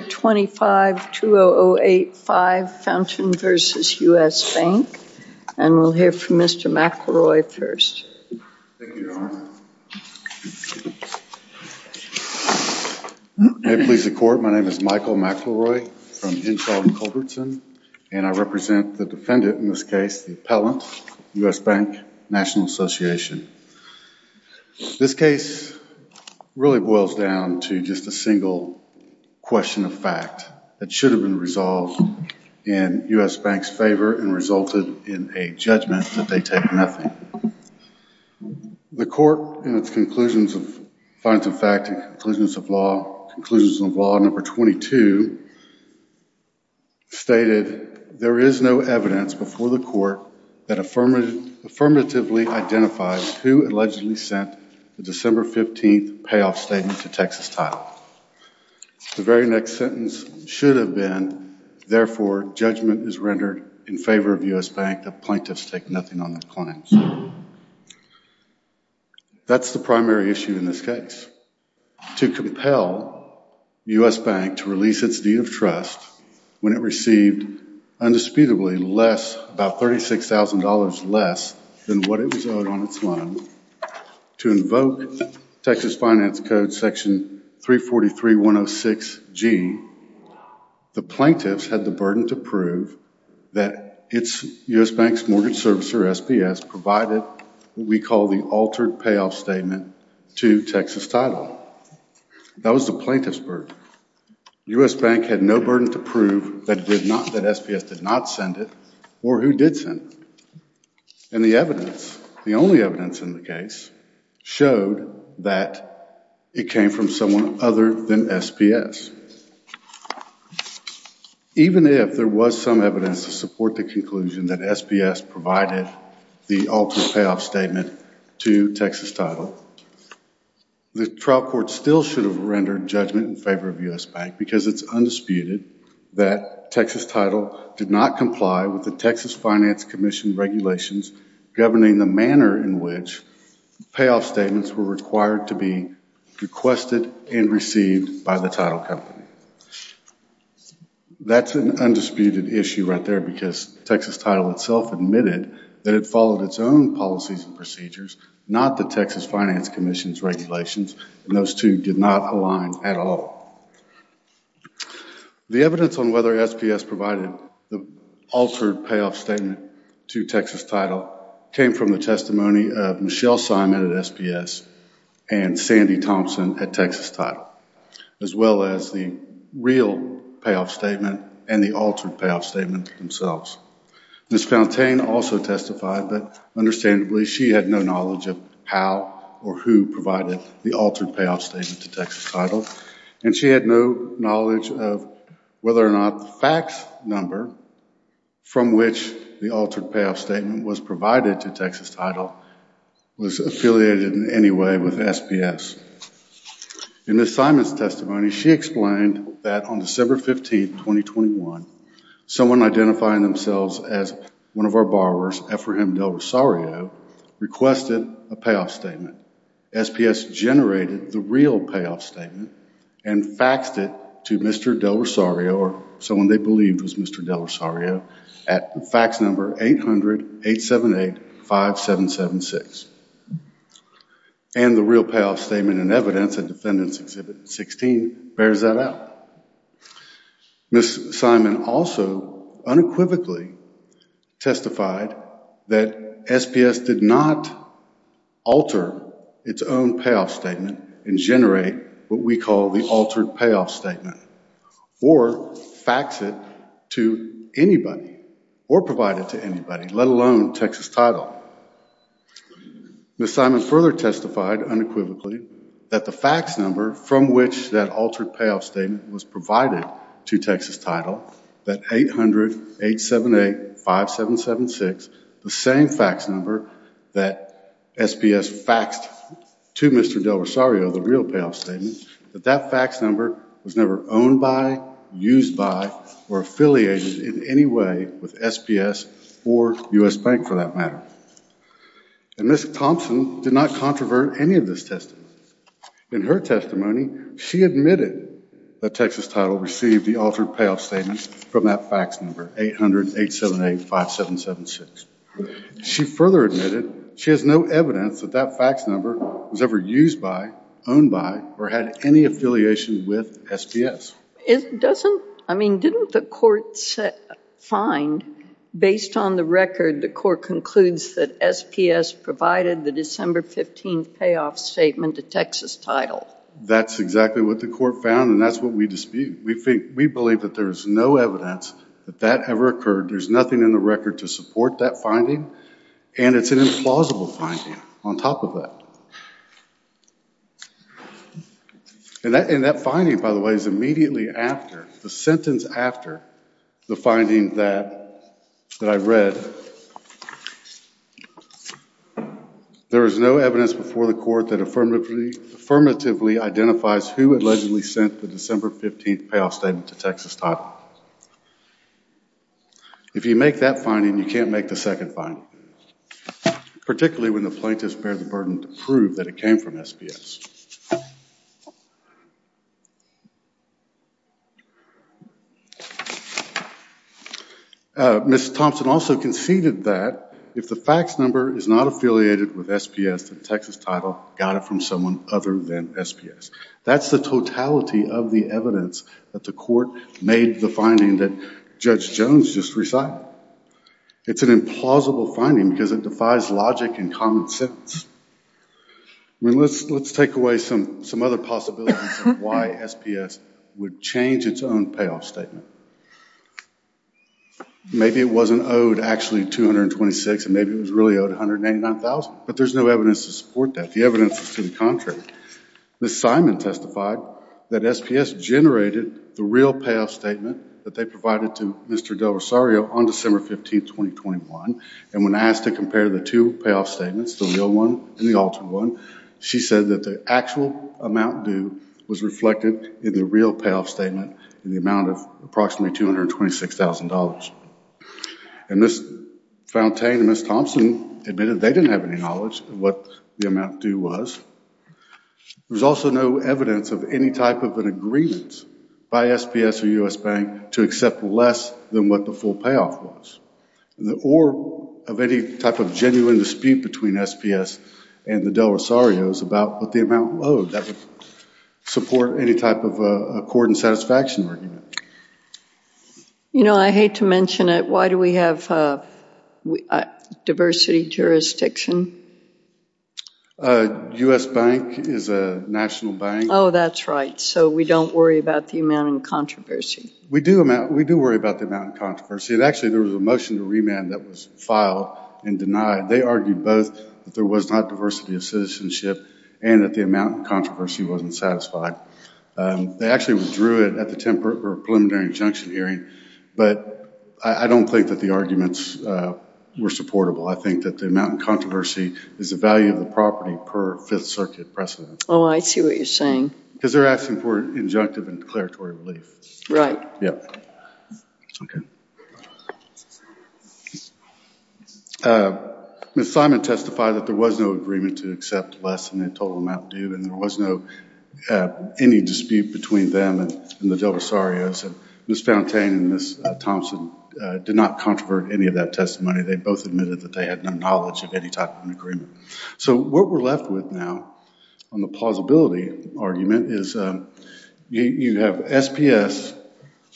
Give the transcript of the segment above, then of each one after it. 25-2008-5, Fountaine v. U.S. Bank, and we'll hear from Mr. McElroy first. Thank you, Your Honor. May it please the Court, my name is Michael McElroy from Hinshaw & Culbertson, and I represent the defendant in this case, the appellant, U.S. Bank National Association. This case really boils down to just a single question of fact that should have been resolved in U.S. Bank's favor and resulted in a judgment that they take nothing. The Court, in its conclusions of, Fountaine v. U.S. Bank, Conclusions of Law, Conclusions of Law Number 22, stated, There is no evidence before the Court that affirmatively identifies who allegedly sent the December 15th payoff statement to Texas Title. The very next sentence should have been, Therefore, judgment is rendered in favor of U.S. Bank that plaintiffs take nothing on their claims. That's the primary issue in this case. To compel U.S. Bank to release its deed of trust when it received undisputably less, about $36,000 less than what it was owed on its loan, to invoke Texas Finance Code Section 343-106-G, the plaintiffs had the burden to prove that U.S. Bank's mortgage servicer, SPS, provided what we call the altered payoff statement to Texas Title. That was the plaintiff's burden. U.S. Bank had no burden to prove that SPS did not send it or who did send it. And the evidence, the only evidence in the case, showed that it came from someone other than SPS. Even if there was some evidence to support the conclusion that SPS provided the altered payoff statement to Texas Title, the trial court still should have rendered judgment in favor of U.S. Bank because it's undisputed that Texas Title did not comply with the Texas Finance Commission regulations governing the manner in which payoff statements were required to be requested and received by the title company. That's an undisputed issue right there because Texas Title itself admitted that it followed its own policies and procedures, not the Texas Finance Commission's regulations, and those two did not align at all. The evidence on whether SPS provided the altered payoff statement to Texas Title came from the testimony of Michelle Simon at SPS and Sandy Thompson at Texas Title, as well as the real payoff statement and the altered payoff statement themselves. Ms. Fountaine also testified, but understandably she had no knowledge of how or who provided the altered payoff statement to Texas Title, and she had no knowledge of whether or not the fax number from which the altered payoff statement was provided to Texas Title was affiliated in any way with SPS. In Ms. Simon's testimony, she explained that on December 15, 2021, someone identifying themselves as one of our borrowers, Ephraim Del Rosario, requested a payoff statement. SPS generated the real payoff statement and faxed it to Mr. Del Rosario, or someone they believed was Mr. Del Rosario, at fax number 800-878-5776. And the real payoff statement and evidence in Defendant's Exhibit 16 bears that out. Ms. Simon also unequivocally testified that SPS did not alter its own payoff statement and generate what we call the altered payoff statement or fax it to anybody or provide it to anybody, let alone Texas Title. Ms. Simon further testified unequivocally that the fax number from which that altered payoff statement was provided to Texas Title, that 800-878-5776, the same fax number that SPS faxed to Mr. Del Rosario, the real payoff statement, that that fax number was never owned by, used by, or affiliated in any way with SPS or U.S. Bank for that matter. And Ms. Thompson did not controvert any of this testimony. In her testimony, she admitted that Texas Title received the altered payoff statement from that fax number, 800-878-5776. She further admitted she has no evidence that that fax number was ever used by, owned by, or had any affiliation with SPS. I mean, didn't the court find, based on the record, the court concludes that SPS provided the December 15th payoff statement to Texas Title? That's exactly what the court found and that's what we dispute. We believe that there is no evidence that that ever occurred. There's nothing in the record to support that finding and it's an implausible finding on top of that. And that finding, by the way, is immediately after, the sentence after the finding that I read. But there is no evidence before the court that affirmatively identifies who allegedly sent the December 15th payoff statement to Texas Title. If you make that finding, you can't make the second finding, particularly when the plaintiffs bear the burden to prove that it came from SPS. Ms. Thompson also conceded that if the fax number is not affiliated with SPS, that Texas Title got it from someone other than SPS. That's the totality of the evidence that the court made the finding that Judge Jones just recited. It's an implausible finding because it defies logic and common sense. Let's take away some other possibilities of why SPS would change its own payoff statement. Maybe it wasn't owed actually $226,000 and maybe it was really owed $189,000. But there's no evidence to support that. The evidence is to the contrary. Ms. Simon testified that SPS generated the real payoff statement that they provided to Mr. Del Rosario on December 15th, 2021. And when asked to compare the two payoff statements, the real one and the altered one, she said that the actual amount due was reflected in the real payoff statement in the amount of approximately $226,000. And Ms. Fontaine and Ms. Thompson admitted they didn't have any knowledge of what the amount due was. There's also no evidence of any type of an agreement by SPS or U.S. Bank to accept less than what the full payoff was. Or of any type of genuine dispute between SPS and the Del Rosarios about what the amount owed. That would support any type of accord and satisfaction argument. You know, I hate to mention it. Why do we have diversity jurisdiction? U.S. Bank is a national bank. Oh, that's right. So we don't worry about the amount in controversy. We do worry about the amount in controversy. And actually there was a motion to remand that was filed and denied. They argued both that there was not diversity of citizenship and that the amount in controversy wasn't satisfied. They actually withdrew it at the preliminary injunction hearing. But I don't think that the arguments were supportable. I think that the amount in controversy is the value of the property per Fifth Circuit precedent. Oh, I see what you're saying. Because they're asking for injunctive and declaratory relief. Right. Yeah. Okay. Ms. Simon testified that there was no agreement to accept less than the total amount due. And there was no, any dispute between them and the Del Rosarios. Ms. Fountaine and Ms. Thompson did not controvert any of that testimony. They both admitted that they had no knowledge of any type of an agreement. So what we're left with now on the plausibility argument is you have SPS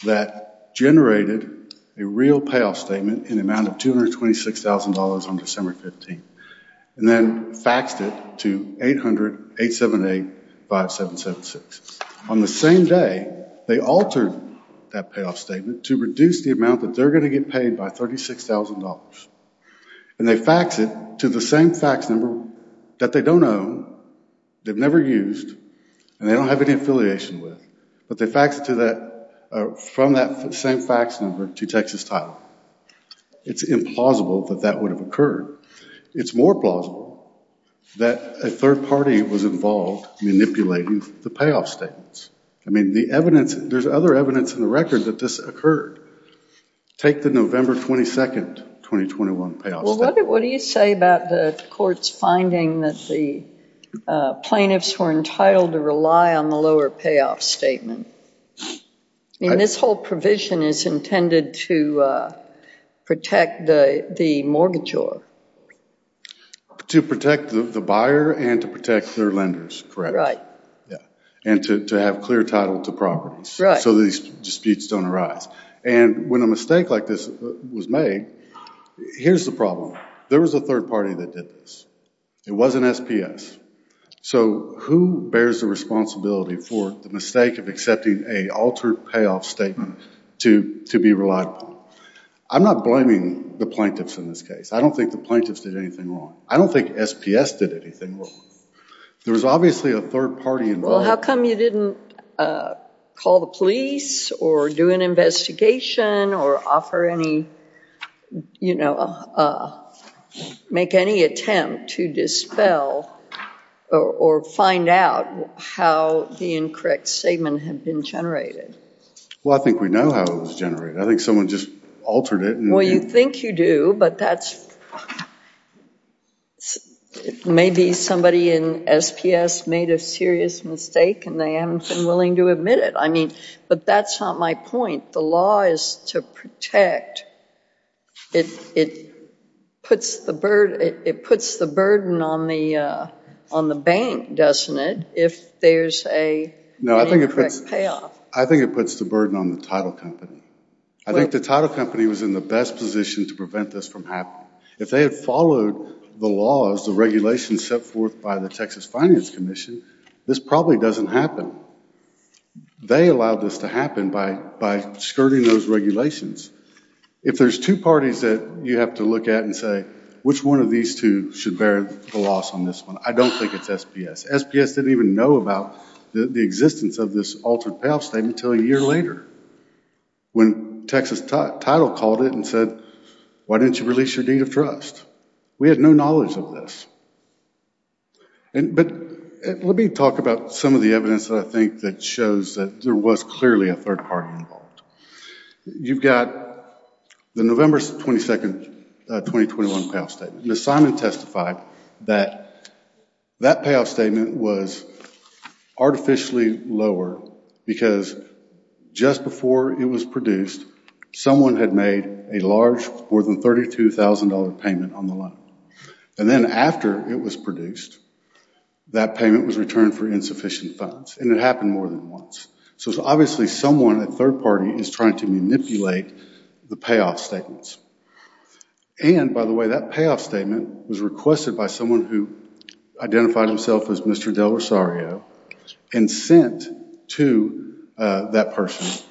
that generated a real payoff statement in the amount of $226,000 on December 15th. And then faxed it to 800-878-5776. On the same day, they altered that payoff statement to reduce the amount that they're going to get paid by $36,000. And they faxed it to the same fax number that they don't own, they've never used, and they don't have any affiliation with. But they faxed it to that, from that same fax number to Texas Title. It's implausible that that would have occurred. It's more plausible that a third party was involved manipulating the payoff statements. I mean, the evidence, there's other evidence in the record that this occurred. Take the November 22nd, 2021 payoff statement. Well, what do you say about the court's finding that the plaintiffs were entitled to rely on the lower payoff statement? I mean, this whole provision is intended to protect the mortgagor. To protect the buyer and to protect their lenders, correct. Right. And to have clear title to properties. Right. So these disputes don't arise. And when a mistake like this was made, here's the problem. There was a third party that did this. It wasn't SPS. So who bears the responsibility for the mistake of accepting a altered payoff statement to be relied upon? I'm not blaming the plaintiffs in this case. I don't think the plaintiffs did anything wrong. I don't think SPS did anything wrong. There was obviously a third party involved. Well, how come you didn't call the police or do an investigation or offer any, you know, make any attempt to dispel or find out how the incorrect statement had been generated? Well, I think we know how it was generated. I think someone just altered it. Well, you think you do, but that's, maybe somebody in SPS made a serious mistake and they haven't been willing to admit it. I mean, but that's not my point. The law is to protect. It puts the burden on the bank, doesn't it, if there's an incorrect payoff? No, I think it puts the burden on the title company. I think the title company was in the best position to prevent this from happening. If they had followed the laws, the regulations set forth by the Texas Finance Commission, this probably doesn't happen. They allowed this to happen by skirting those regulations. If there's two parties that you have to look at and say, which one of these two should bear the loss on this one, I don't think it's SPS. SPS didn't even know about the existence of this altered payoff statement until a year later, when Texas Title called it and said, why didn't you release your deed of trust? We had no knowledge of this. But let me talk about some of the evidence that I think that shows that there was clearly a third party involved. You've got the November 22, 2021 payoff statement. Ms. Simon testified that that payoff statement was artificially lower because just before it was produced, someone had made a large, more than $32,000 payment on the loan. And then after it was produced, that payment was returned for insufficient funds. And it happened more than once. So obviously someone, a third party, is trying to manipulate the payoff statements. And, by the way, that payoff statement was requested by someone who identified himself as Mr. Del Rosario and sent to that person.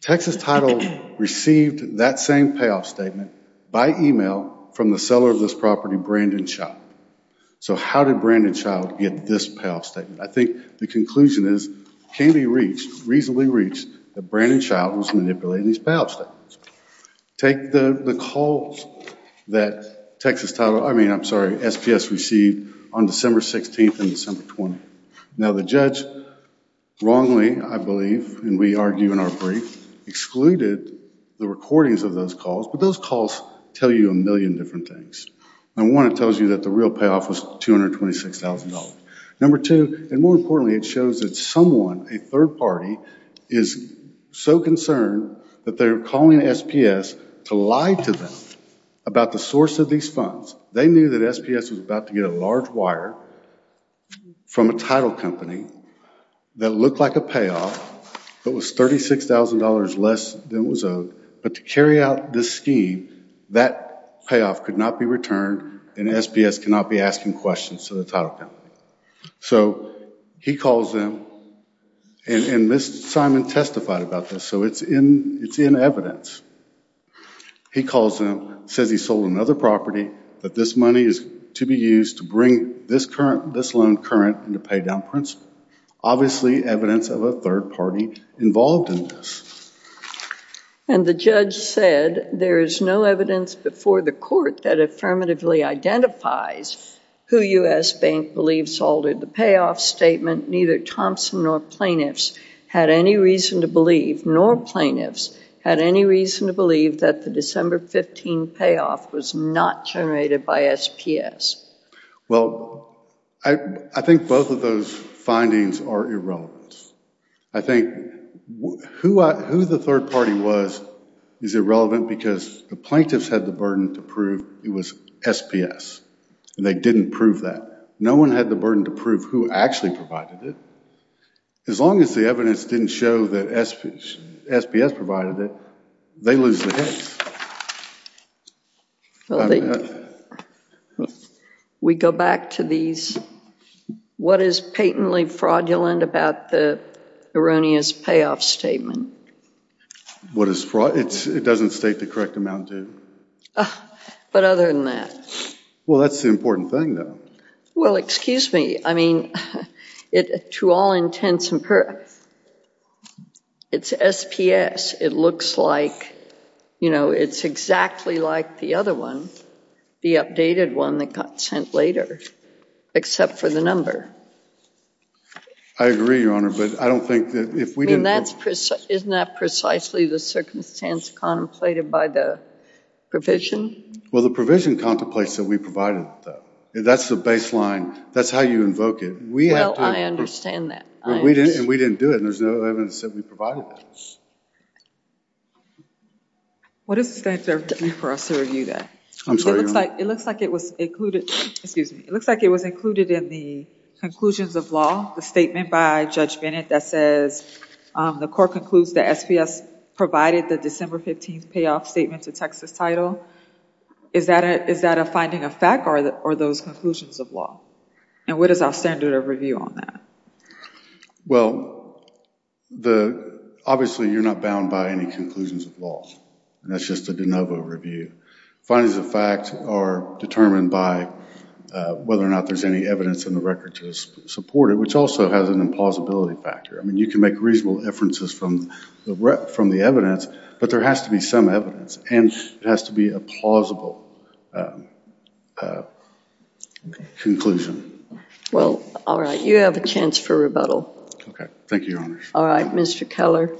Texas Title received that same payoff statement by email from the seller of this property, Brandon Child. So how did Brandon Child get this payoff statement? I think the conclusion is it can be reached, reasonably reached, that Brandon Child was manipulating these payoff statements. Take the calls that Texas Title, I mean, I'm sorry, SPS received on December 16 and December 20. Now, the judge wrongly, I believe, and we argue in our brief, excluded the recordings of those calls. But those calls tell you a million different things. And one, it tells you that the real payoff was $226,000. Number two, and more importantly, it shows that someone, a third party, is so concerned that they're calling SPS to lie to them about the source of these funds. They knew that SPS was about to get a large wire from a title company that looked like a payoff that was $36,000 less than it was owed. But to carry out this scheme, that payoff could not be returned and SPS cannot be asking questions to the title company. So he calls them, and Ms. Simon testified about this, so it's in evidence. He calls them, says he sold another property, that this money is to be used to bring this loan current into paydown principle. Obviously, evidence of a third party involved in this. And the judge said, there is no evidence before the court that affirmatively identifies who U.S. Bank believes altered the payoff statement. Neither Thompson nor plaintiffs had any reason to believe, nor plaintiffs had any reason to believe that the December 15 payoff was not generated by SPS. Well, I think both of those findings are irrelevant. I think who the third party was is irrelevant because the plaintiffs had the burden to prove it was SPS. And they didn't prove that. No one had the burden to prove who actually provided it. As long as the evidence didn't show that SPS provided it, they lose the case. Well, we go back to these. What is patently fraudulent about the erroneous payoff statement? What is fraud? It doesn't state the correct amount due. But other than that. Well, that's the important thing, though. Well, excuse me. I mean, to all intents and purposes, it's SPS. It looks like, you know, it's exactly like the other one, the updated one that got sent later, except for the number. I agree, Your Honor, but I don't think that if we didn't. I mean, isn't that precisely the circumstance contemplated by the provision? Well, the provision contemplates that we provided it, though. That's the baseline. That's how you invoke it. Well, I understand that. And we didn't do it, and there's no evidence that we provided that. What is the standard for us to review that? I'm sorry, Your Honor. It looks like it was included. Excuse me. It looks like it was included in the conclusions of law, the statement by Judge Bennett that says the court concludes that SPS provided the December 15th payoff statement to Texas title. Is that a finding of fact, or are those conclusions of law? And what is our standard of review on that? Well, obviously you're not bound by any conclusions of law, and that's just a de novo review. Findings of fact are determined by whether or not there's any evidence in the record to support it, which also has an implausibility factor. I mean, you can make reasonable inferences from the evidence, but there has to be some evidence, and it has to be a plausible conclusion. Well, all right. You have a chance for rebuttal. OK. Thank you, Your Honor. All right, Mr. Keller.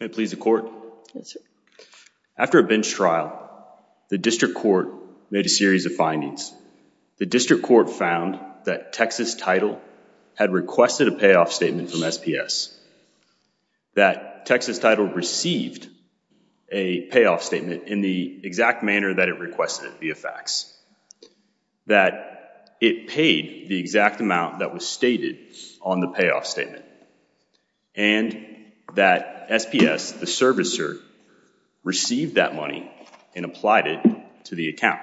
May it please the court? Yes, sir. After a bench trial, the district court made a series of findings. The district court found that Texas title had requested a payoff statement from SPS, that Texas title received a payoff statement in the exact manner that it requested it via fax, that it paid the exact amount that was stated on the payoff statement, and that SPS, the servicer, received that money and applied it to the account.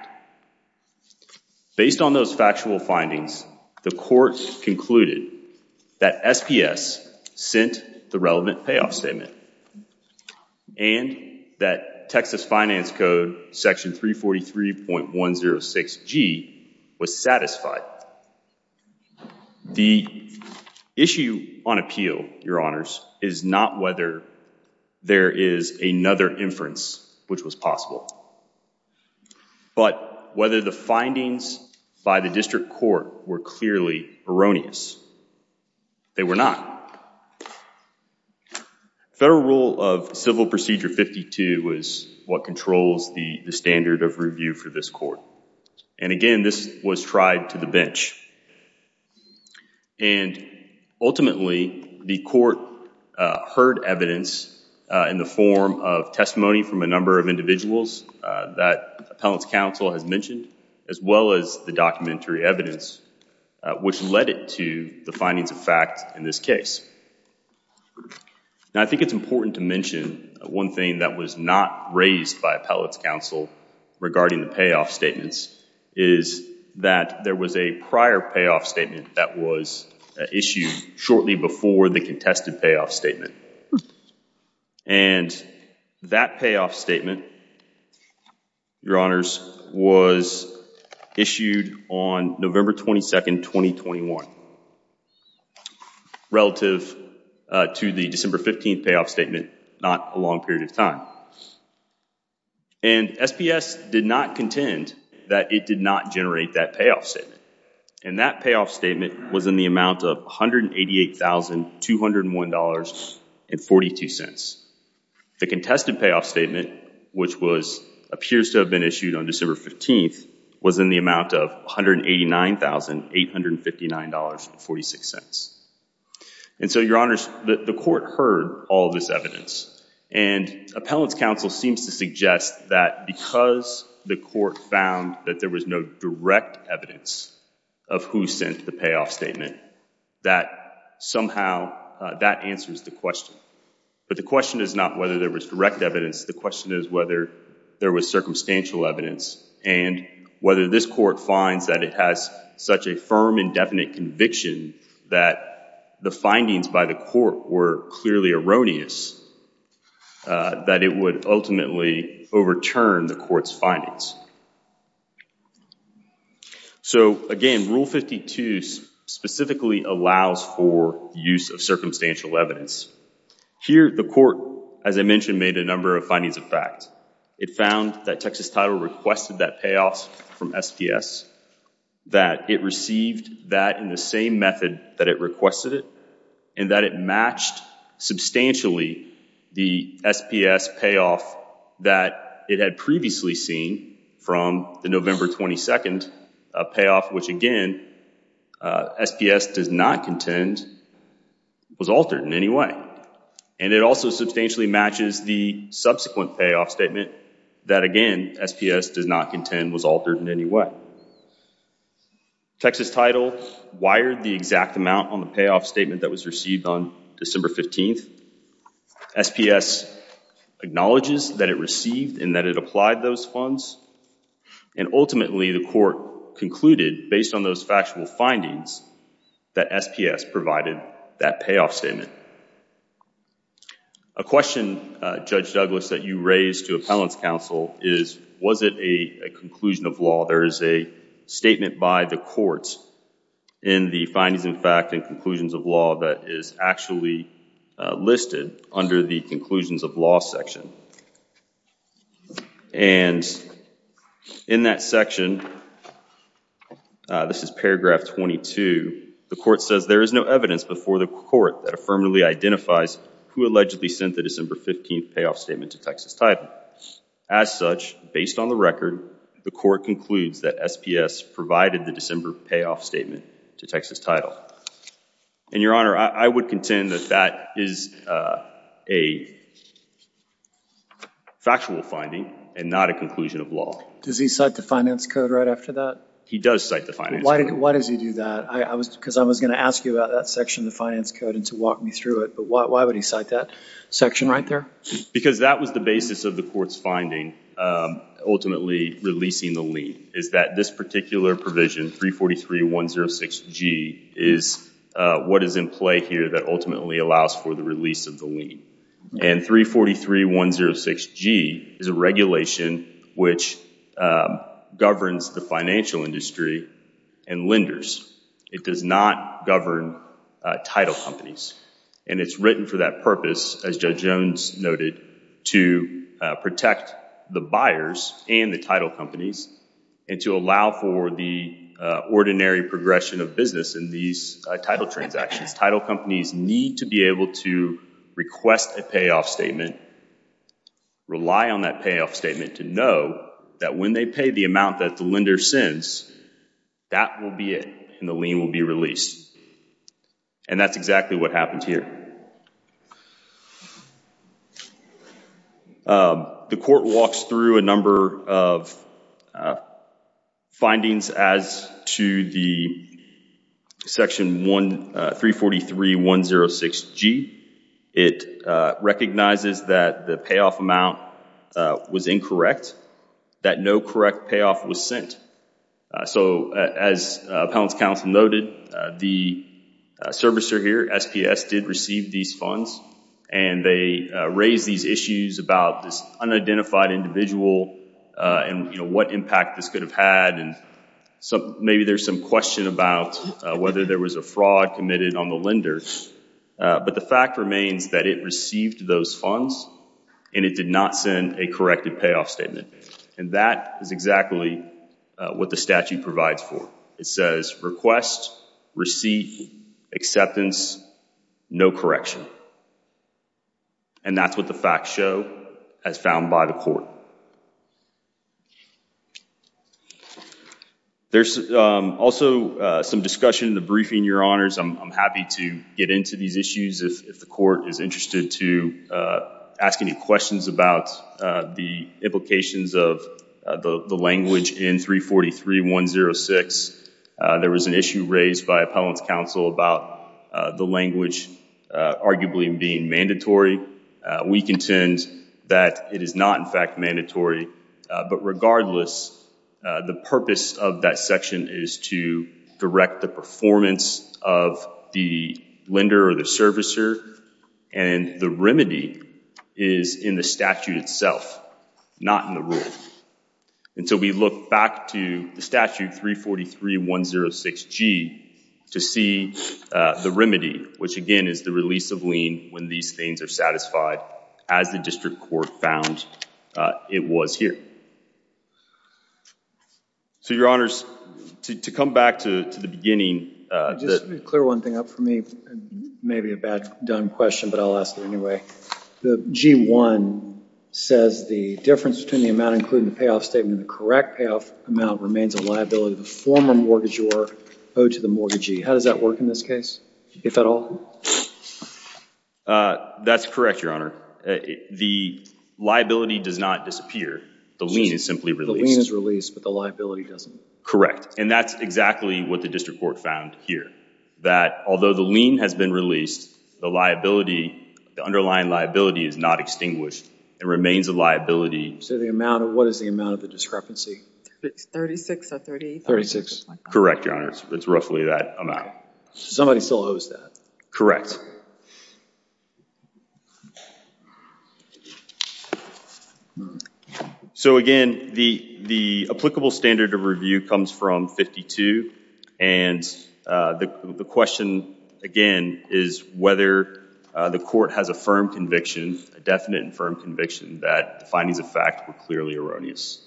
Based on those factual findings, the court concluded that SPS sent the relevant payoff statement and that Texas finance code section 343.106G was satisfied. The issue on appeal, Your Honors, is not whether there is another inference which was possible. But whether the findings by the district court were clearly erroneous. They were not. Federal rule of civil procedure 52 was what controls the standard of review for this court. And again, this was tried to the bench. And ultimately, the court heard evidence in the form of testimony from a number of individuals that appellant's counsel has mentioned, as well as the documentary evidence, which led it to the findings of fact in this case. And I think it's important to mention one thing that was not raised by appellant's counsel regarding the payoff statements is that there was a prior payoff statement that was issued shortly before the contested payoff statement. And that payoff statement, Your Honors, was issued on November 22, 2021, relative to the December 15 payoff statement, not a long period of time. And SPS did not contend that it did not generate that payoff statement. And that payoff statement was in the amount of $188,201.42. The contested payoff statement, which appears to have been issued on December 15, was in the amount of $189,859.46. And so, Your Honors, the court heard all this evidence. And appellant's counsel seems to suggest that because the court found that there was no direct evidence of who sent the payoff statement, that somehow that answers the question. But the question is not whether there was direct evidence. The question is whether there was circumstantial evidence and whether this court finds that it has such a firm and definite conviction that the findings by the court were clearly erroneous that it would ultimately overturn the court's findings. So, again, Rule 52 specifically allows for use of circumstantial evidence. Here, the court, as I mentioned, made a number of findings of fact. It found that Texas Title requested that payoff from SPS, that it received that in the same method that it requested it, and that it matched substantially the SPS payoff that it had previously seen from the November 22 payoff, which, again, SPS does not contend was altered in any way. And it also substantially matches the subsequent payoff statement that, again, SPS does not contend was altered in any way. Texas Title wired the exact amount on the payoff statement that was received on December 15. SPS acknowledges that it received and that it applied those funds. And ultimately, the court concluded, based on those factual findings, that SPS provided that payoff statement. A question, Judge Douglas, that you raised to appellant's counsel is, was it a conclusion of law? There is a statement by the court in the findings in fact and conclusions of law that is actually listed under the conclusions of law section. And in that section, this is paragraph 22, the court says there is no evidence before the court that affirmatively identifies who allegedly sent the December 15 payoff statement to Texas Title. As such, based on the record, the court concludes that SPS provided the December payoff statement to Texas Title. And, Your Honor, I would contend that that is a factual finding and not a conclusion of law. Does he cite the finance code right after that? He does cite the finance code. Why does he do that? Because I was going to ask you about that section of the finance code and to walk me through it. But why would he cite that section right there? Because that was the basis of the court's finding, ultimately releasing the lien, is that this particular provision, 343-106-G, is what is in play here that ultimately allows for the release of the lien. And 343-106-G is a regulation which governs the financial industry and lenders. It does not govern title companies. And it's written for that purpose, as Judge Jones noted, to protect the buyers and the title companies and to allow for the ordinary progression of business in these title transactions. Title companies need to be able to request a payoff statement, rely on that payoff statement to know that when they pay the amount that the lender sends, that will be it and the lien will be released. And that's exactly what happened here. The court walks through a number of findings as to the section 343-106-G. It recognizes that the payoff amount was incorrect, that no correct payoff was sent. So as appellant's counsel noted, the servicer here, SPS, did receive these funds and they raised these issues about this unidentified individual and what impact this could have had. And maybe there's some question about whether there was a fraud committed on the lender. But the fact remains that it received those funds and it did not send a corrected payoff statement. And that is exactly what the statute provides for. It says request, receipt, acceptance, no correction. And that's what the facts show as found by the court. There's also some discussion in the briefing, Your Honors. I'm happy to get into these issues if the court is interested to ask any questions about the implications of the language in 343-106. There was an issue raised by appellant's counsel about the language arguably being mandatory. We contend that it is not, in fact, mandatory. But regardless, the purpose of that section is to direct the performance of the lender or the servicer. And the remedy is in the statute itself, not in the rule. And so we look back to the statute 343-106G to see the remedy, which again is the release of lien when these things are satisfied as the district court found it was here. So, Your Honors, to come back to the beginning. Just clear one thing up for me. Maybe a bad done question, but I'll ask it anyway. The G-1 says the difference between the amount included in the payoff statement and the correct payoff amount remains a liability of the former mortgagor owed to the mortgagee. How does that work in this case, if at all? That's correct, Your Honor. The liability does not disappear. The lien is simply released. The lien is released, but the liability doesn't. Correct. And that's exactly what the district court found here. That although the lien has been released, the underlying liability is not extinguished. It remains a liability. So what is the amount of the discrepancy? 36 or 38. 36. Correct, Your Honors. It's roughly that amount. Somebody still owes that. Correct. So, again, the applicable standard of review comes from 52. And the question, again, is whether the court has a firm conviction, a definite and firm conviction, that the findings of fact were clearly erroneous.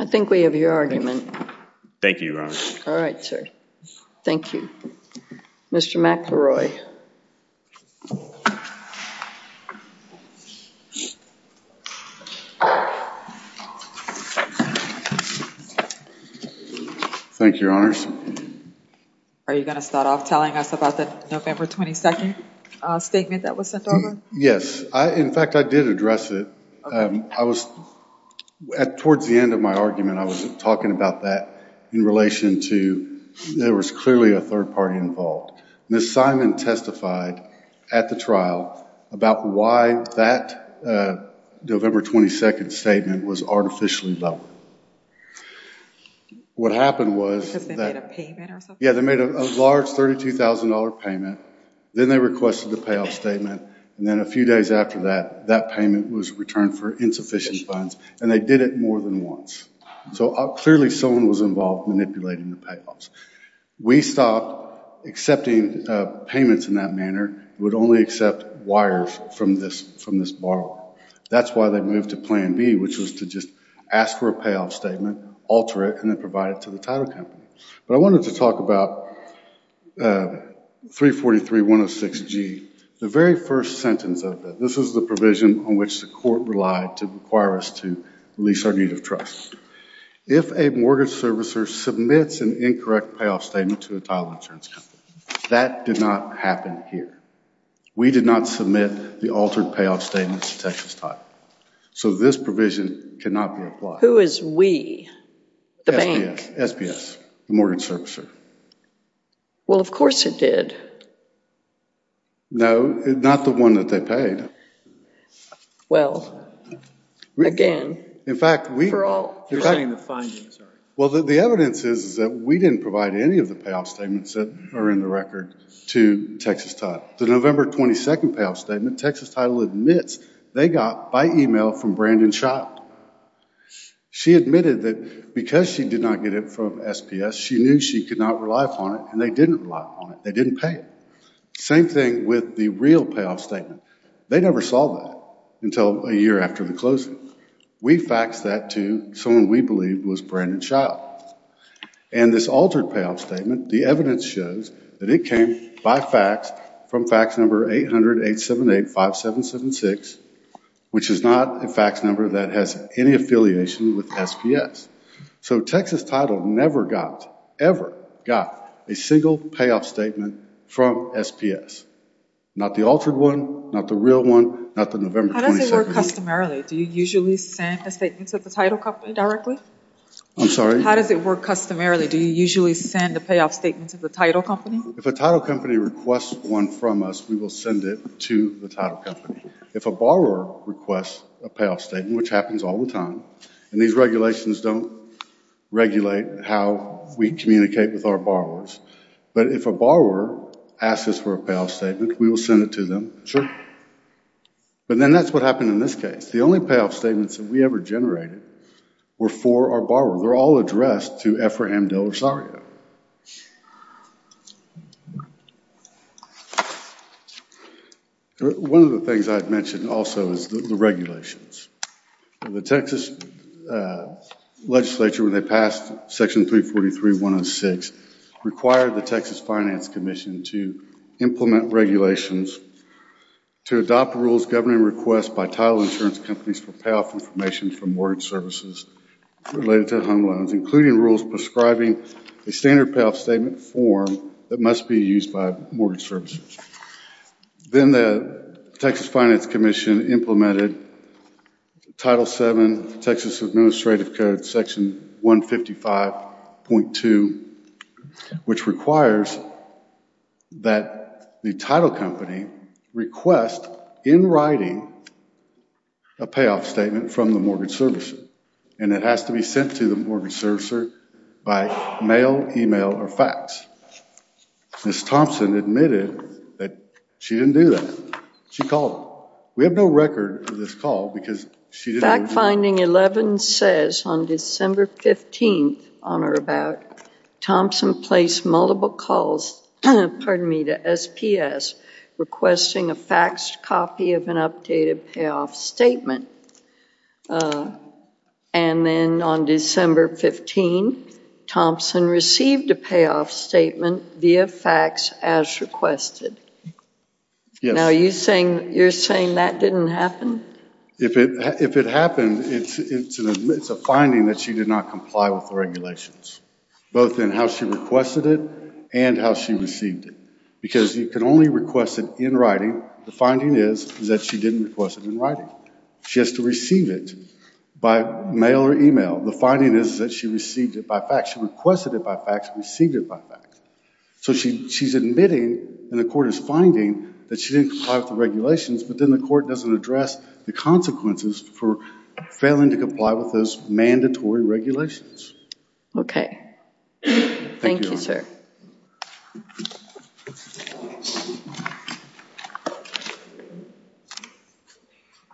I think we have your argument. Thank you, Your Honor. All right, sir. Thank you. Mr. McElroy. Thank you, Your Honors. Are you going to start off telling us about the November 22nd statement that was sent over? Yes. In fact, I did address it. Towards the end of my argument, I was talking about that in relation to there was clearly a third party involved. Ms. Simon testified at the trial about why that November 22nd statement was artificially dumped. Because they made a payment or something? Yeah, they made a large $32,000 payment. Then they requested the payoff statement. And then a few days after that, that payment was returned for insufficient funds. And they did it more than once. So clearly someone was involved manipulating the payoffs. We stopped accepting payments in that manner. We would only accept wires from this borrower. That's why they moved to Plan B, which was to just ask for a payoff statement, alter it, and then provide it to the title company. But I wanted to talk about 343-106-G, the very first sentence of it. This is the provision on which the court relied to require us to release our need of trust. If a mortgage servicer submits an incorrect payoff statement to a title insurance company, that did not happen here. We did not submit the altered payoff statement to Texas Title. So this provision cannot be applied. Who is we? The bank. SPS, the mortgage servicer. Well, of course it did. No, not the one that they paid. Well, again, for all. You're saying the findings are. Well, the evidence is that we didn't provide any of the payoff statements that are in the record to Texas Title. The November 22nd payoff statement, Texas Title admits they got by email from Brandon Schott. She admitted that because she did not get it from SPS, she knew she could not rely upon it, and they didn't rely upon it. They didn't pay. Same thing with the real payoff statement. They never saw that until a year after the closing. We faxed that to someone we believed was Brandon Schott. And this altered payoff statement, the evidence shows that it came by fax from fax number 800-878-5776, which is not a fax number that has any affiliation with SPS. So Texas Title never got, ever got, a single payoff statement from SPS. Not the altered one, not the real one, not the November 22nd. How does it work customarily? Do you usually send a statement to the title company directly? I'm sorry? How does it work customarily? Do you usually send a payoff statement to the title company? If a title company requests one from us, we will send it to the title company. If a borrower requests a payoff statement, which happens all the time, and these regulations don't regulate how we communicate with our borrowers, but if a borrower asks us for a payoff statement, we will send it to them. But then that's what happened in this case. The only payoff statements that we ever generated were for our borrower. They're all addressed to Ephraim, Dill, or Saria. One of the things I've mentioned also is the regulations. The Texas legislature, when they passed Section 343.106, required the Texas Finance Commission to implement regulations to adopt rules governing requests by title insurance companies for payoff information from mortgage services related to home loans, including rules prescribing a standard payoff statement form that must be used by mortgage services. Then the Texas Finance Commission implemented Title VII Texas Administrative Code, Section 155.2, which requires that the title company request, in writing, a payoff statement from the mortgage services, and it has to be sent to the mortgage servicer by mail, email, or fax. Ms. Thompson admitted that she didn't do that. She called. We have no record of this call because she didn't do that. Fact Finding 11 says on December 15th, on or about, Thompson placed multiple calls to SPS requesting a faxed copy of an updated payoff statement, and then on December 15th, Thompson received a payoff statement via fax as requested. Now, you're saying that didn't happen? If it happened, it's a finding that she did not comply with the regulations, both in how she requested it and how she received it, because you can only request it in writing. The finding is that she didn't request it in writing. She has to receive it by mail or email. The finding is that she received it by fax. She requested it by fax, received it by fax. So she's admitting, and the court is finding, that she didn't comply with the regulations, but then the court doesn't address the consequences for failing to comply with those mandatory regulations. Okay. Thank you, sir. Thank you.